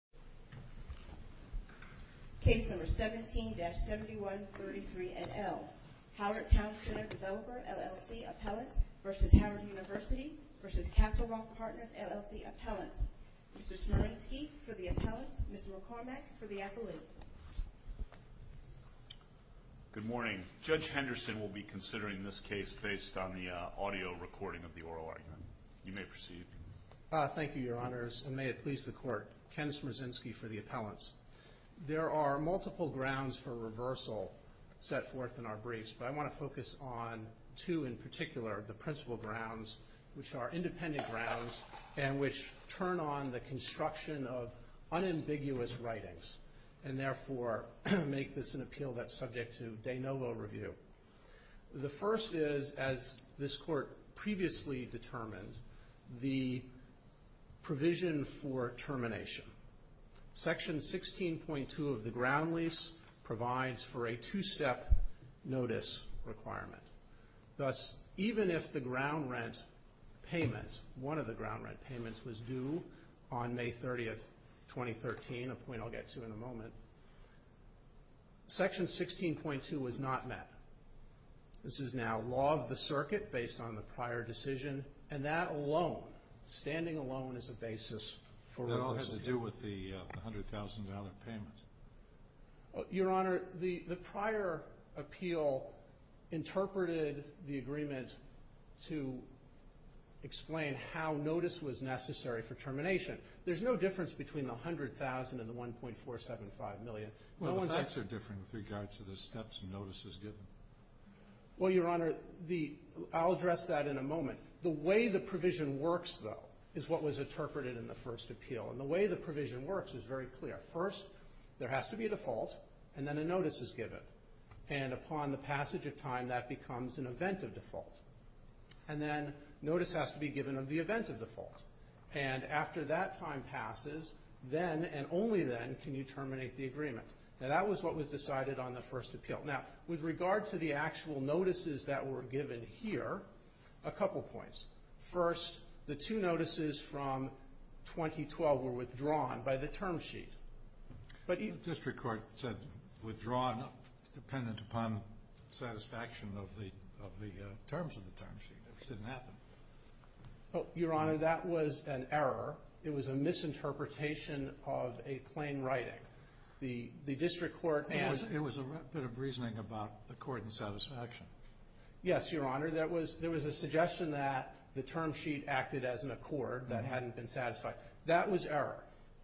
v. Castle Rock Partners, LLC, Appellant. Mr. Smerensky for the Appellant. Mr. McCormack for the Appellant. Good morning. Judge Henderson will be considering this case based on the audio recording of the oral argument. You may proceed. Thank you, Your Honors, and may it please the Court. Ken Smerensky for the Appellant. There are multiple grounds for reversal set forth in our briefs, but I want to focus on two in particular, the principal grounds, which are independent grounds and which turn on the construction of unambiguous writings and therefore make this an appeal that's subject to de novo review. The first is, as this Court previously determined, the provision for termination. Section 16.2 of the ground lease provides for a two-step notice requirement. Thus, even if the ground rent payment, one of the ground rent payments, was due on May 30, 2013, a point I'll get not met. This is now law of the circuit based on the prior decision, and that alone, standing alone, is a basis for reversal. That all has to do with the $100,000 payment. Your Honor, the prior appeal interpreted the agreement to explain how notice was necessary for termination. There's no difference between the $100,000 and the $1.475 million. Well, the facts are the steps notice is given. Well, Your Honor, I'll address that in a moment. The way the provision works, though, is what was interpreted in the first appeal. And the way the provision works is very clear. First, there has to be a default, and then a notice is given. And upon the passage of time, that becomes an event of default. And then notice has to be given of the event of default. And after that time passes, then, and only then, can you appeal. Now, with regard to the actual notices that were given here, a couple points. First, the two notices from 2012 were withdrawn by the term sheet. But you... The district court said withdrawn dependent upon satisfaction of the terms of the term sheet. It didn't happen. Well, Your Honor, that was an error. It was a misinterpretation of a plain writing. The district court... It was a bit of reasoning about the court and satisfaction. Yes, Your Honor. There was a suggestion that the term sheet acted as an accord that hadn't been satisfied. That was error.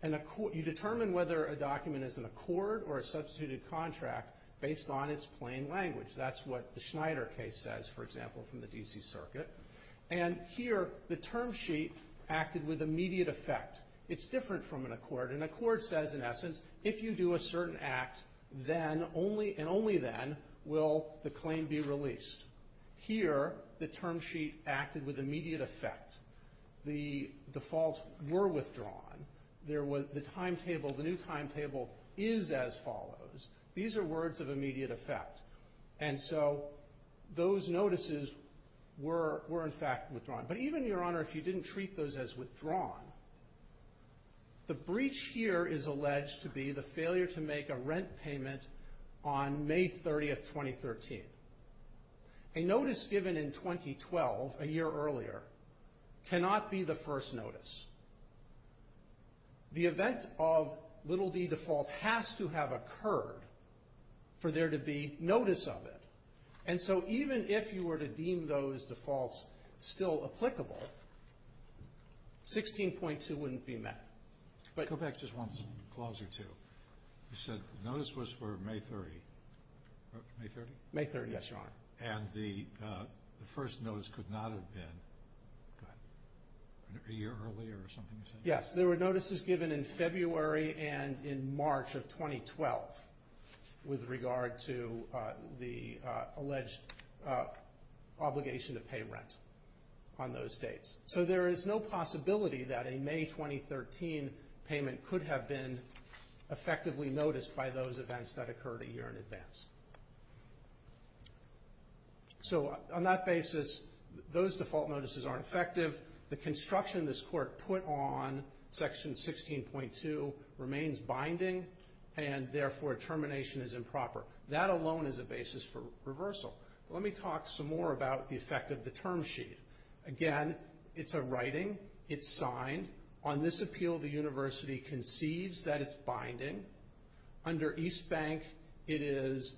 You determine whether a document is an accord or a substituted contract based on its plain language. That's what the Schneider case says, for example, from the D.C. Circuit. And here, the term sheet acted with immediate effect. It's different from an accord. An accord says, in essence, if you do a certain act, then only... And only then will the claim be released. Here, the term sheet acted with immediate effect. The defaults were withdrawn. There was... The timetable, the new timetable is as follows. These are words of immediate effect. And so, those notices were, in fact, withdrawn. But even, Your Honor, if you didn't treat those as withdrawn, the breach here is alleged to be the failure to make a rent payment on May 30, 2013. A notice given in 2012, a year earlier, cannot be the first notice. The event of little d default has to have occurred for there to be a new timetable. 16.2 wouldn't be met. Go back just one clause or two. You said notice was for May 30. May 30? May 30, yes, Your Honor. And the first notice could not have been a year earlier or something you said? Yes. There were notices given in February and in March of 2012 with regard to the alleged obligation to pay rent on those days. And so there is no possibility that a May 2013 payment could have been effectively noticed by those events that occurred a year in advance. So, on that basis, those default notices aren't effective. The construction this Court put on, Section 16.2, remains binding, and therefore termination is improper. That alone is a basis for reversal. Let me talk some more about the effect of the term sheet. Again, it's a writing. It's signed. On this appeal, the University conceives that it's binding. Under East Bank, it is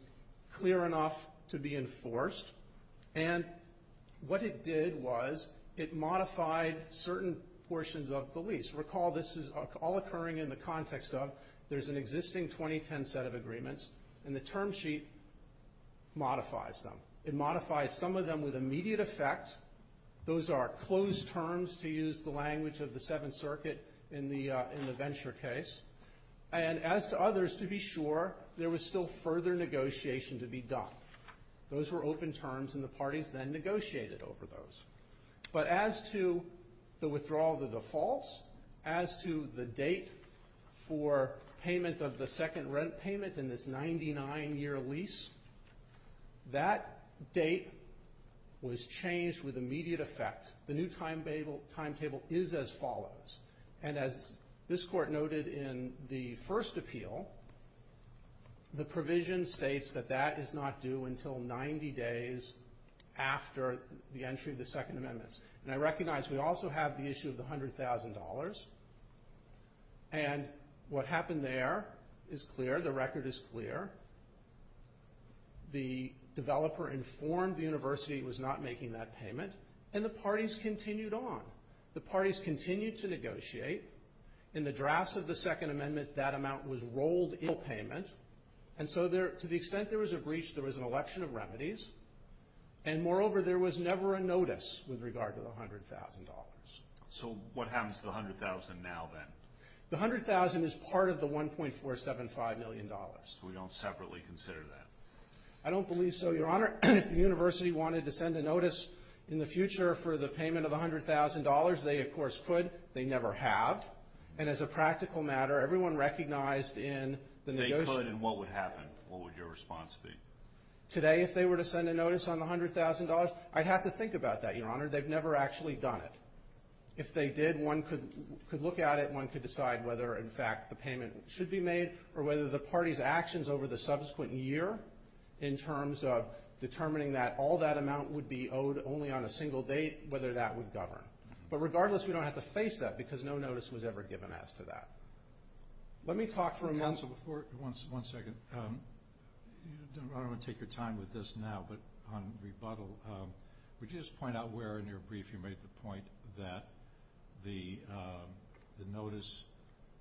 clear enough to be enforced. And what it did was it modified certain portions of the lease. Recall this is all occurring in the context of there's an existing 2010 set of agreements, and the term sheet modifies them. It modifies some of them with immediate effect. Those are closed terms, to use the language of the Seventh Circuit in the Venture case. And as to others, to be sure, there was still further negotiation to be done. Those were open terms, and the parties then negotiated over those. But as to the withdrawal of the defaults, as to the date for payment of the second rent payment in this 99-year lease, that date was changed with immediate effect. The new timetable is as follows. And as this Court noted in the first appeal, the provision states that that is not due until 90 days after the entry of the Second Amendment. And I recognize we also have the issue of the $100,000. And what happened there is clear. The record is clear. The developer informed the University it was not making that payment, and the parties continued on. The parties continued to negotiate. In the drafts of the Second Amendment, that amount was rolled in payment. And so to the extent there was a notice with regard to the $100,000. So what happens to the $100,000 now, then? The $100,000 is part of the $1.475 million. So we don't separately consider that? I don't believe so, Your Honor. If the University wanted to send a notice in the future for the payment of the $100,000, they of course could. They never have. And as a practical matter, everyone recognized in the negotiation They could, and what would happen? What would your response be? Today, if they were to send a notice on the $100,000, I'd have to think about that, Your Honor. They've never actually done it. If they did, one could look at it, one could decide whether, in fact, the payment should be made, or whether the party's actions over the subsequent year in terms of determining that all that amount would be owed only on a single date, whether that would govern. But regardless, we don't have to face that, because no notice was ever given as to that. Let me talk for a moment. Counsel, one second. I don't want to take your time with this now, but on rebuttal, would you just point out where in your brief you made the point that the notice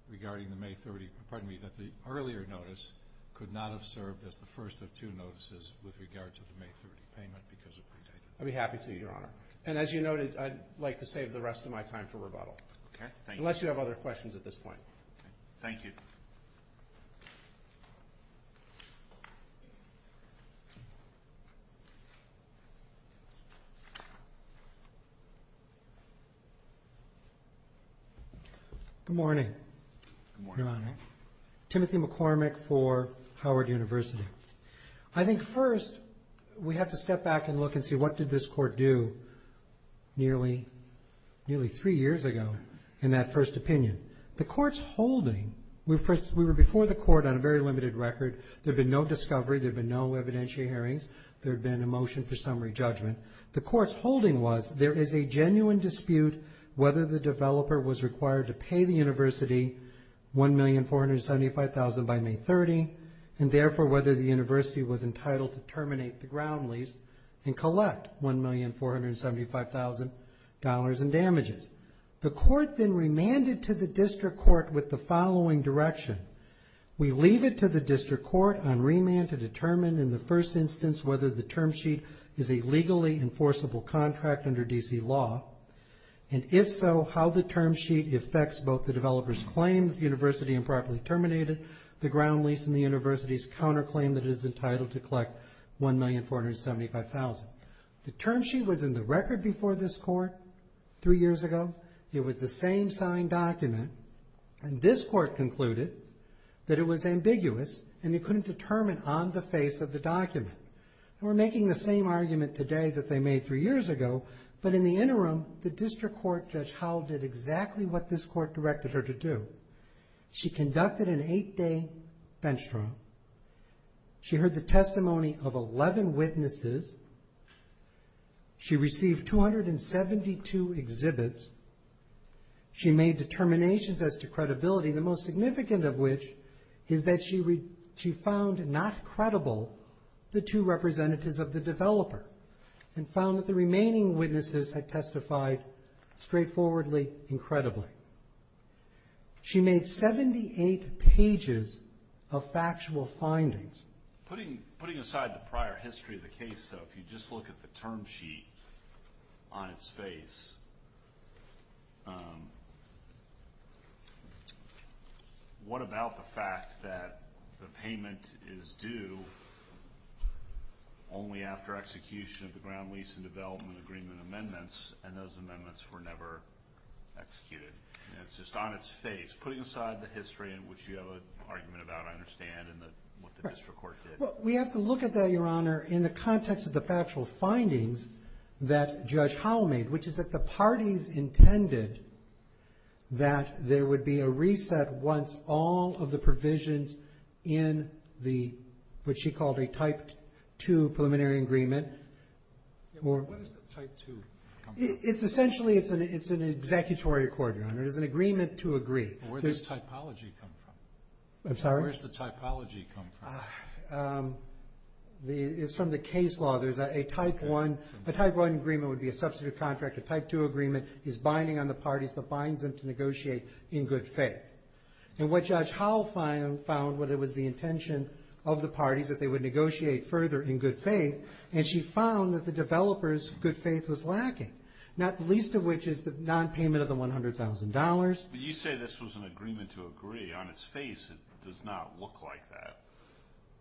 regarding the May 30th, pardon me, that the earlier notice could not have served as the first of two notices with regard to the May 30th payment because of predate? I'd be happy to, Your Honor. And as you noted, I'd like to save the rest of my time for rebuttal. Okay, thank you. Unless you have other questions at this point. Thank you. Good morning, Your Honor. Timothy McCormick for Howard University. I think first we have to step back and look and see what did this Court do nearly three years ago in that first opinion. The Court's holding, we were before the Court on a very limited record, there had been no discovery, there had been no evidentiary hearings, there had been a motion for summary judgment. The Court's holding was there is a genuine dispute whether the developer was required to pay the University $1,475,000 by May 30th, and therefore whether the University was entitled to terminate the ground lease and collect $1,475,000 in damages. The Court then remanded to the District Court with the following direction. We leave it to the District Court on remand to determine in the first instance whether the term sheet is a legally enforceable contract under D.C. law, and if so, how the term sheet affects both the developer's claim that the University improperly terminated the ground lease and the University's counterclaim that it is entitled to collect $1,475,000. The term sheet was in the record before this Court three years ago. It was the same signed document, and this Court concluded that it was ambiguous and it couldn't determine on the face of the document. We're making the same argument today that they made three years ago, but in the interim, the District Court Judge Howell did exactly what this Court directed her to do. She conducted an eight-day bench trial. She heard the testimony of 11 witnesses. She received 272 exhibits. She made determinations as to credibility, the most significant of which is that she found not credible the two representatives of the developer, and found that the she made 78 pages of factual findings. Putting aside the prior history of the case, though, if you just look at the term sheet on its face, what about the fact that the payment is due only after execution of the ground lease and development agreement amendments, and those amendments were never executed? And it's just on its face. Putting aside the history in which you have an argument about, I understand, and what the District Court did. Well, we have to look at that, Your Honor, in the context of the factual findings that Judge Howell made, which is that the parties intended that there would be a reset once all of the provisions in the, what she called a Type II preliminary agreement were What is a Type II? Essentially, it's an executory accord, Your Honor. It's an agreement to agree. Where does typology come from? I'm sorry? Where does the typology come from? It's from the case law. There's a Type I. A Type I agreement would be a substitute contract. A Type II agreement is binding on the parties, but binds them to negotiate in good faith. And what Judge Howell found was that it was the intention of the parties that they would negotiate further in good faith, and she found that the developers' good faith was lacking, not the least of which is the nonpayment of the $100,000. But you say this was an agreement to agree. On its face, it does not look like that,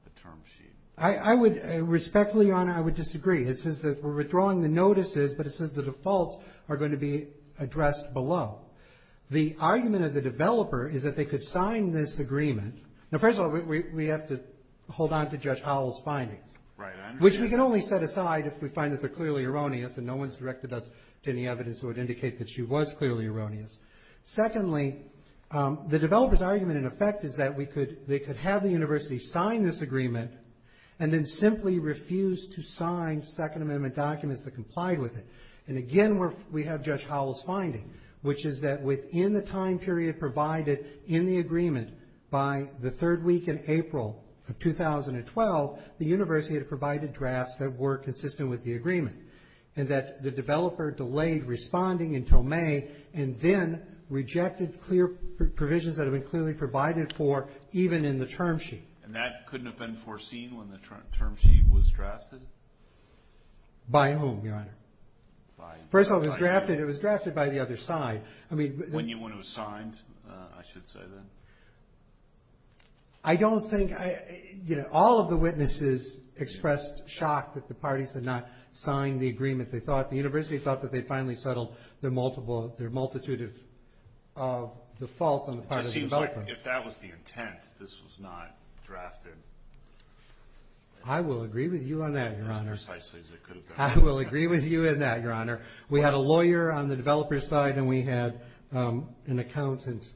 the term sheet. I would respectfully, Your Honor, I would disagree. It says that we're withdrawing the notices, but it says the defaults are going to be addressed below. The argument of the developer is that they could sign this agreement. Now, first of all, we have to hold on to Judge Howell's findings. Right, I understand. Which we can only set aside if we find that they're clearly erroneous, and no one's directed us to any evidence that would indicate that she was clearly erroneous. Secondly, the developer's argument, in effect, is that they could have the university sign this agreement, and then simply refuse to sign Second Amendment documents that complied with it. And again, we have Judge Howell's finding, which is that within the time period provided in the agreement by the third week in April of 2012, the drafts that were consistent with the agreement, and that the developer delayed responding until May, and then rejected clear provisions that have been clearly provided for, even in the term sheet. And that couldn't have been foreseen when the term sheet was drafted? By whom, Your Honor? By Judge Howell. First of all, it was drafted by the other side. When you went and signed, I should say, then? I don't think...all of the witnesses expressed shock that the parties had not signed the agreement they thought. The university thought that they'd finally settled their multitude of defaults on the part of the developer. It just seems like if that was the intent, this was not drafted. I will agree with you on that, Your Honor. As precisely as it could have been. I will agree with you in that, Your Honor. We had a lawyer on the developer's side, and we had an accountant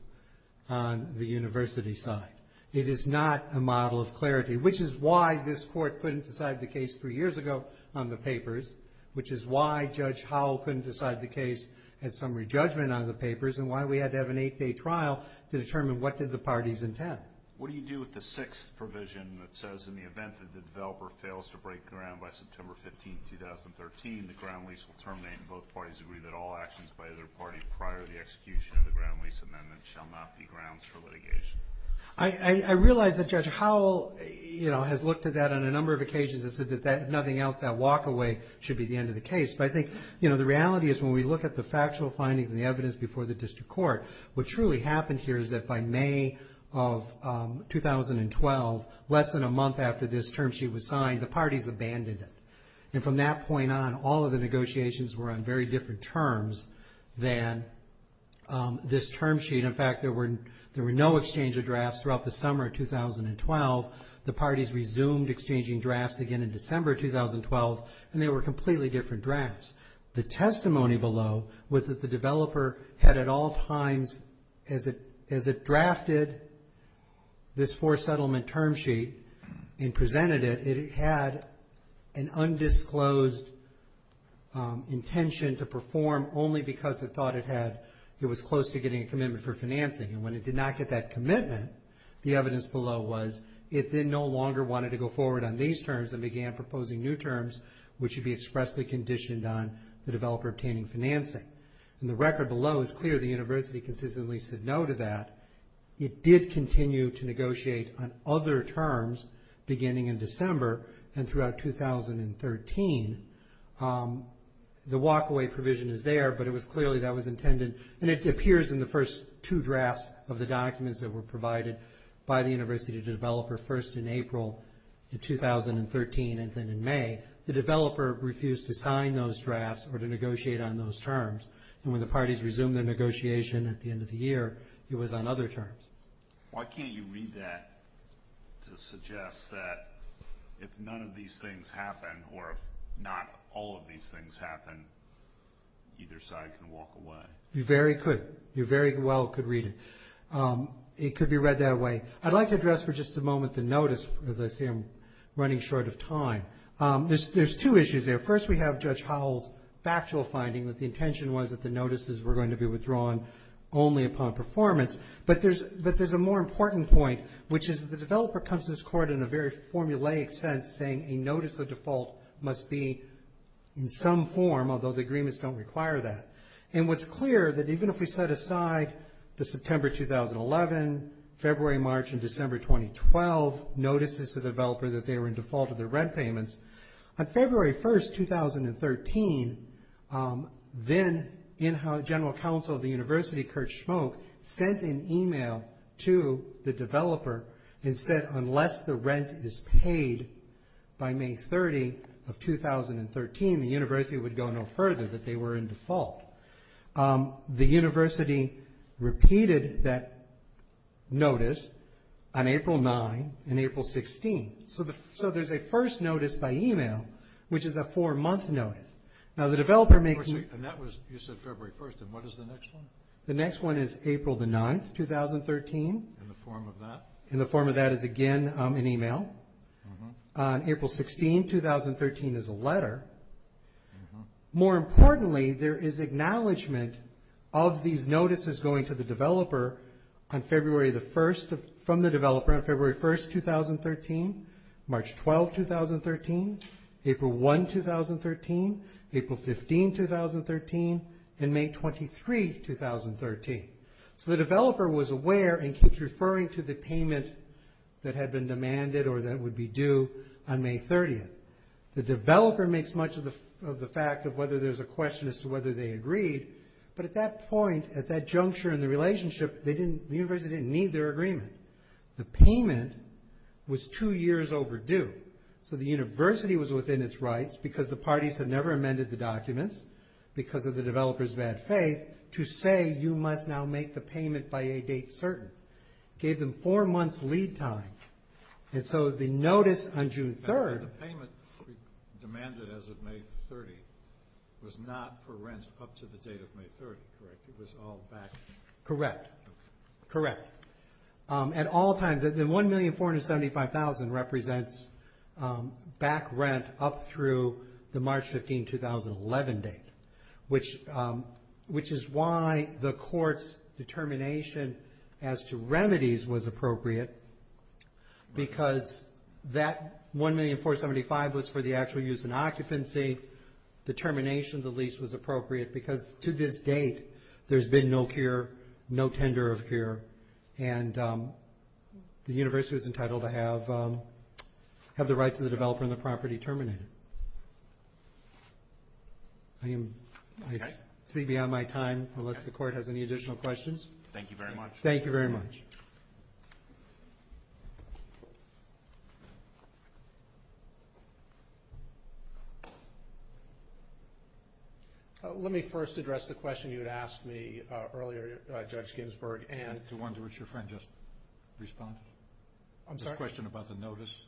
on the university's side. It is not a model of clarity, which is why this court couldn't decide the case three years ago on the papers, which is why Judge Howell couldn't decide the case at summary judgment on the papers, and why we had to have an eight-day trial to determine what did the parties intend. What do you do with the sixth provision that says, in the event that the developer fails to break ground by September 15, 2013, the ground lease will terminate, and both parties agree that all actions by either party prior to the execution of the ground lease amendment shall not be grounds for litigation? I realize that Judge Howell has looked at that on a number of occasions and said that if nothing else, that walk-away should be the end of the case. But I think the reality is when we look at the factual findings and the evidence before the district court, what truly happened here is that by May of 2012, less than a month after this term sheet was signed, the parties abandoned it, and from that point on, all of the negotiations were on very different terms than this term sheet. In fact, there were no exchange of drafts throughout the summer of 2012. The parties resumed exchanging drafts again in December of 2012, and they were completely different drafts. The testimony below was that the developer had at all times, as it drafted this forced settlement term sheet and presented it, that it had an undisclosed intention to perform only because it thought it was close to getting a commitment for financing. And when it did not get that commitment, the evidence below was it then no longer wanted to go forward on these terms and began proposing new terms which should be expressly conditioned on the developer obtaining financing. And the record below is clear. The university consistently said no to that. It did continue to negotiate on other terms beginning in December and throughout 2013. The walk-away provision is there, but it was clearly that was intended, and it appears in the first two drafts of the documents that were provided by the university developer first in April of 2013 and then in May. The developer refused to sign those drafts or to negotiate on those terms, and when the parties resumed their negotiation at the end of the year, it was on other terms. Why can't you read that to suggest that if none of these things happen or if not all of these things happen, either side can walk away? You very well could read it. It could be read that way. I'd like to address for just a moment the notice, because I see I'm running short of time. There's two issues there. First, we have Judge Howell's factual finding that the intention was that only upon performance, but there's a more important point, which is that the developer comes to this court in a very formulaic sense saying a notice of default must be in some form, although the agreements don't require that. And what's clear that even if we set aside the September 2011, February, March, and December 2012 notices to the developer that they were in default of their rent payments, on February 1, 2013, then General Counsel of the University, Kurt Schmoke, sent an email to the developer and said, unless the rent is paid by May 30 of 2013, the university would go no further, that they were in default. The university repeated that notice on April 9 and April 16. So there's a first notice by email, which is a four-month notice. Now, the developer makes – And that was – you said February 1, and what is the next one? The next one is April 9, 2013. In the form of that? In the form of that is, again, an email. On April 16, 2013, is a letter. More importantly, there is acknowledgment of these notices going to the developer from the developer on February 1, 2013, March 12, 2013, April 1, 2013, April 15, 2013, and May 23, 2013. So the developer was aware and keeps referring to the payment that had been demanded or that would be due on May 30. The developer makes much of the fact of whether there's a question as to whether they agreed, but at that point, at that juncture in the relationship, the university didn't need their agreement. The payment was two years overdue. So the university was within its rights, because the parties had never amended the documents, because of the developer's bad faith, to say you must now make the payment by a date certain. It gave them four months lead time. And so the notice on June 3rd – The payment demanded as of May 30 was not for rent up to the date of May 30, correct? Correct, correct. At all times, the $1,475,000 represents back rent up through the March 15, 2011 date, which is why the court's determination as to remedies was appropriate, because that $1,475,000 was for the actual use in occupancy. The termination of the lease was appropriate, because to this date there's been no cure, no tender of cure, and the university was entitled to have the rights of the developer and the property terminated. I see beyond my time, unless the court has any additional questions. Thank you very much. Thank you very much. Let me first address the question you had asked me earlier, Judge Ginsburg. The one to which your friend just responded? I'm sorry? This question about the notice.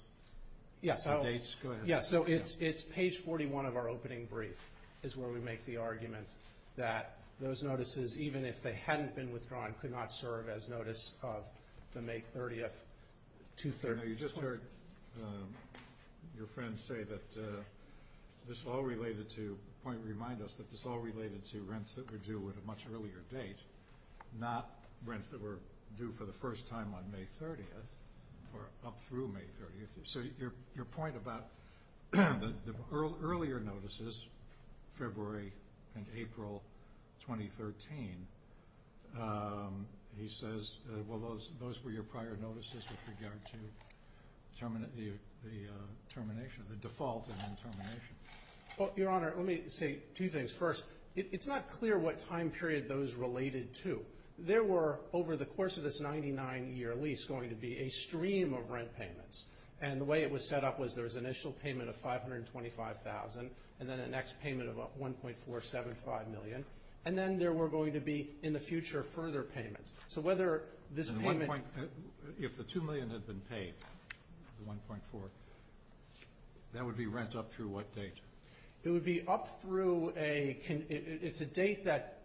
Yes. The dates. Go ahead. Yes, so it's page 41 of our opening brief is where we make the argument that those notices, even if they hadn't been withdrawn, could not serve as notice of the May 30, 2013. You just heard your friend say that this all related to rents that were due at a much earlier date, not rents that were due for the first time on May 30 or up through May 30. So your point about the earlier notices, February and April 2013, he says, well, those were your prior notices with regard to the termination, the default and then termination. Well, Your Honor, let me say two things. First, it's not clear what time period those related to. There were, over the course of this 99-year lease, going to be a stream of rent payments, and the way it was set up was there was an initial payment of $525,000 and then an ex-payment of $1.475 million. And then there were going to be, in the future, further payments. So whether this payment – If the $2 million had been paid, the $1.4, that would be rent up through what date? It would be up through a – it's a date that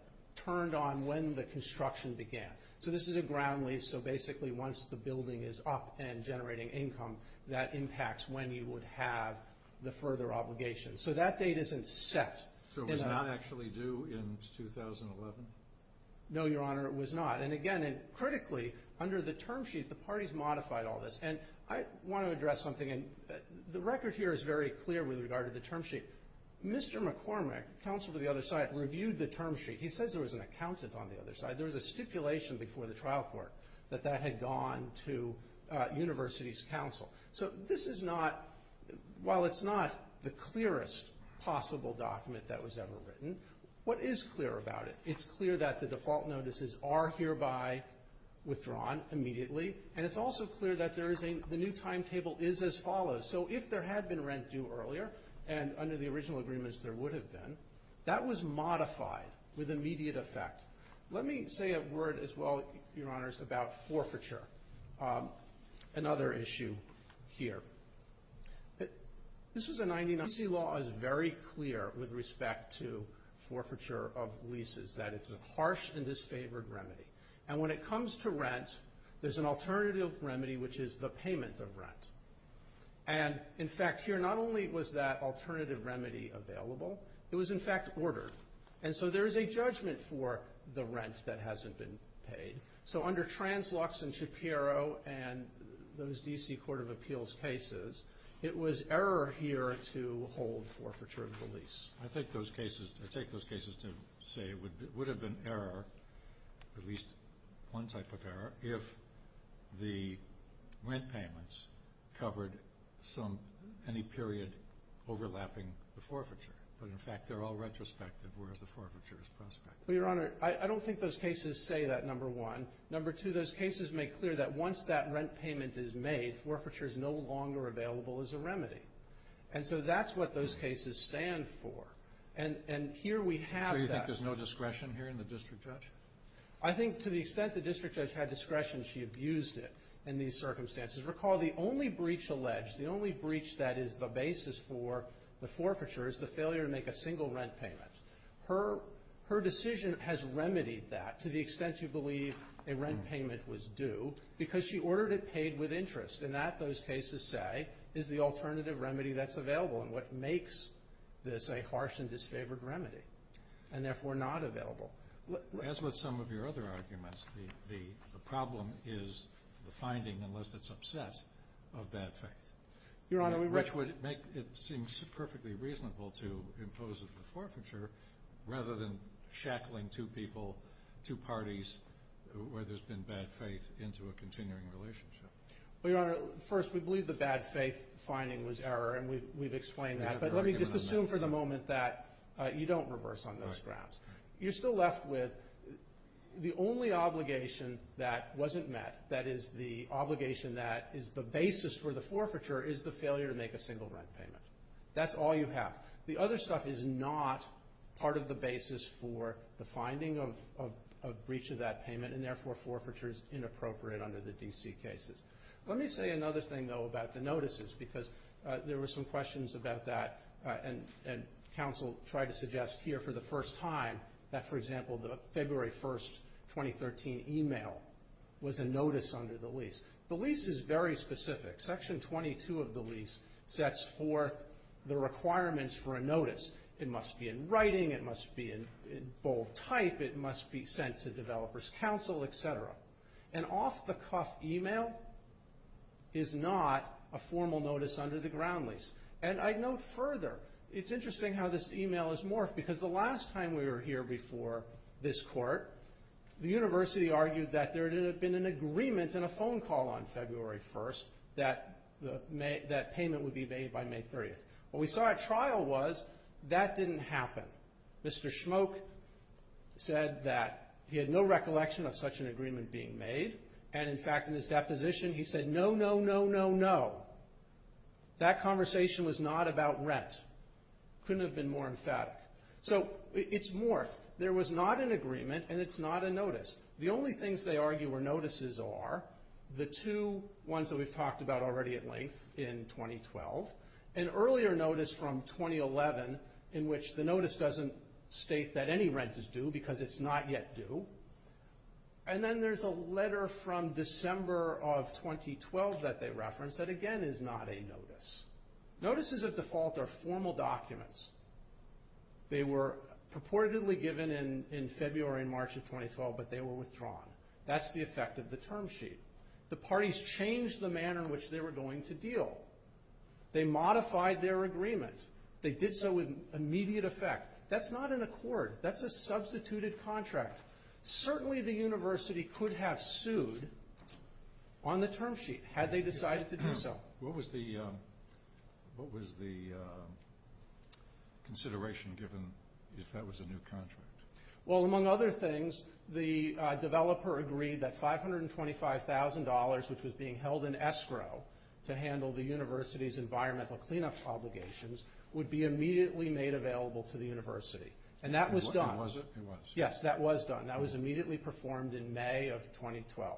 turned on when the construction began. So this is a ground lease, so basically once the building is up and generating income, that impacts when you would have the further obligation. So that date isn't set. So it was not actually due in 2011? No, Your Honor, it was not. And again, critically, under the term sheet, the parties modified all this. And I want to address something. The record here is very clear with regard to the term sheet. Mr. McCormick, counsel to the other side, reviewed the term sheet. He says there was an accountant on the other side. There was a stipulation before the trial court that that had gone to universities' counsel. So this is not – while it's not the clearest possible document that was ever written, what is clear about it? It's clear that the default notices are hereby withdrawn immediately, and it's also clear that there is a – the new timetable is as follows. So if there had been rent due earlier, and under the original agreements there would have been, that was modified with immediate effect. Let me say a word as well, Your Honors, about forfeiture, another issue here. This was a 1990 –– law is very clear with respect to forfeiture of leases, that it's a harsh and disfavored remedy. And when it comes to rent, there's an alternative remedy, which is the payment of rent. And, in fact, here not only was that alternative remedy available, it was, in fact, ordered. And so there is a judgment for the rent that hasn't been paid. So under Trans-Lux and Shapiro and those D.C. Court of Appeals cases, it was error here to hold forfeiture of the lease. I take those cases to say it would have been error, at least one type of error, if the rent payments covered any period overlapping the forfeiture. But, in fact, they're all retrospective, whereas the forfeiture is prospective. Well, Your Honor, I don't think those cases say that, number one. Number two, those cases make clear that once that rent payment is made, forfeiture is no longer available as a remedy. And so that's what those cases stand for. And here we have that. So you think there's no discretion here in the district judge? I think to the extent the district judge had discretion, she abused it in these circumstances. Recall the only breach alleged, the only breach that is the basis for the forfeiture, is the failure to make a single rent payment. Her decision has remedied that to the extent you believe a rent payment was due, because she ordered it paid with interest. And that, those cases say, is the alternative remedy that's available and what makes this a harsh and disfavored remedy and, therefore, not available. As with some of your other arguments, the problem is the finding, unless it's upset, of bad faith. Your Honor, we were Which would make it seem perfectly reasonable to impose a forfeiture rather than shackling two people, two parties, where there's been bad faith, into a continuing relationship. Well, Your Honor, first, we believe the bad faith finding was error, and we've explained that. But let me just assume for the moment that you don't reverse on those graphs. You're still left with the only obligation that wasn't met, that is the obligation that is the basis for the forfeiture, is the failure to make a single rent payment. That's all you have. The other stuff is not part of the basis for the finding of breach of that payment and, therefore, forfeiture is inappropriate under the D.C. cases. Let me say another thing, though, about the notices, because there were some questions about that and counsel tried to suggest here for the first time that, for example, the February 1, 2013 email was a notice under the lease. The lease is very specific. Section 22 of the lease sets forth the requirements for a notice. It must be in writing. It must be in bold type. It must be sent to developer's counsel, et cetera. An off-the-cuff email is not a formal notice under the ground lease. And I'd note further, it's interesting how this email is morphed, because the last time we were here before this court, the university argued that there had been an agreement in a phone call on February 1 that payment would be made by May 30th. What we saw at trial was that didn't happen. Mr. Schmoke said that he had no recollection of such an agreement being made, and, in fact, in his deposition he said, no, no, no, no, no. That conversation was not about rent. Couldn't have been more emphatic. So it's morphed. There was not an agreement, and it's not a notice. The only things they argue were notices are the two ones that we've talked about already at length in 2012, an earlier notice from 2011 in which the notice doesn't state that any rent is due because it's not yet due, and then there's a letter from December of 2012 that they referenced that, again, is not a notice. Notices of default are formal documents. They were purportedly given in February and March of 2012, but they were withdrawn. That's the effect of the term sheet. The parties changed the manner in which they were going to deal. They modified their agreement. They did so with immediate effect. That's not an accord. That's a substituted contract. Certainly the university could have sued on the term sheet had they decided to do so. What was the consideration given if that was a new contract? Well, among other things, the developer agreed that $525,000, which was being held in escrow to handle the university's environmental cleanup obligations, would be immediately made available to the university, and that was done. Was it? It was. Yes, that was done. That was immediately performed in May of 2012,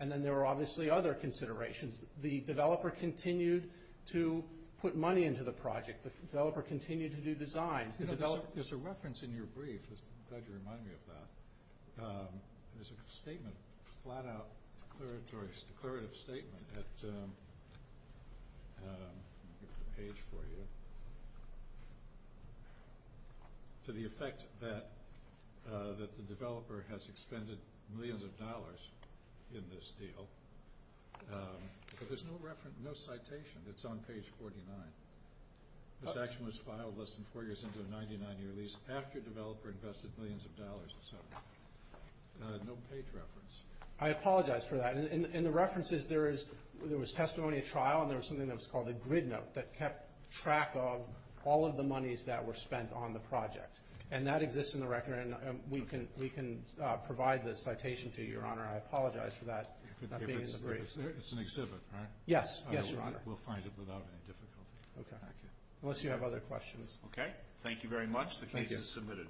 and then there were obviously other considerations. The developer continued to put money into the project. The developer continued to do designs. There's a reference in your brief. I'm glad you remind me of that. There's a statement, a flat-out declarative statement at the page for you to the effect that the developer has expended millions of dollars in this deal, but there's no citation that's on page 49. This action was filed less than four years into a 99-year lease after the developer invested millions of dollars in something. No page reference. I apologize for that. In the references, there was testimony at trial, and there was something that was called a grid note that kept track of all of the monies that were spent on the project, and that exists in the record, and we can provide the citation to you, Your Honor. I apologize for that not being in the brief. It's an exhibit, right? Yes, Your Honor. We'll find it without any difficulty. Okay. Unless you have other questions. Okay. Thank you very much. Thank you. The case is submitted.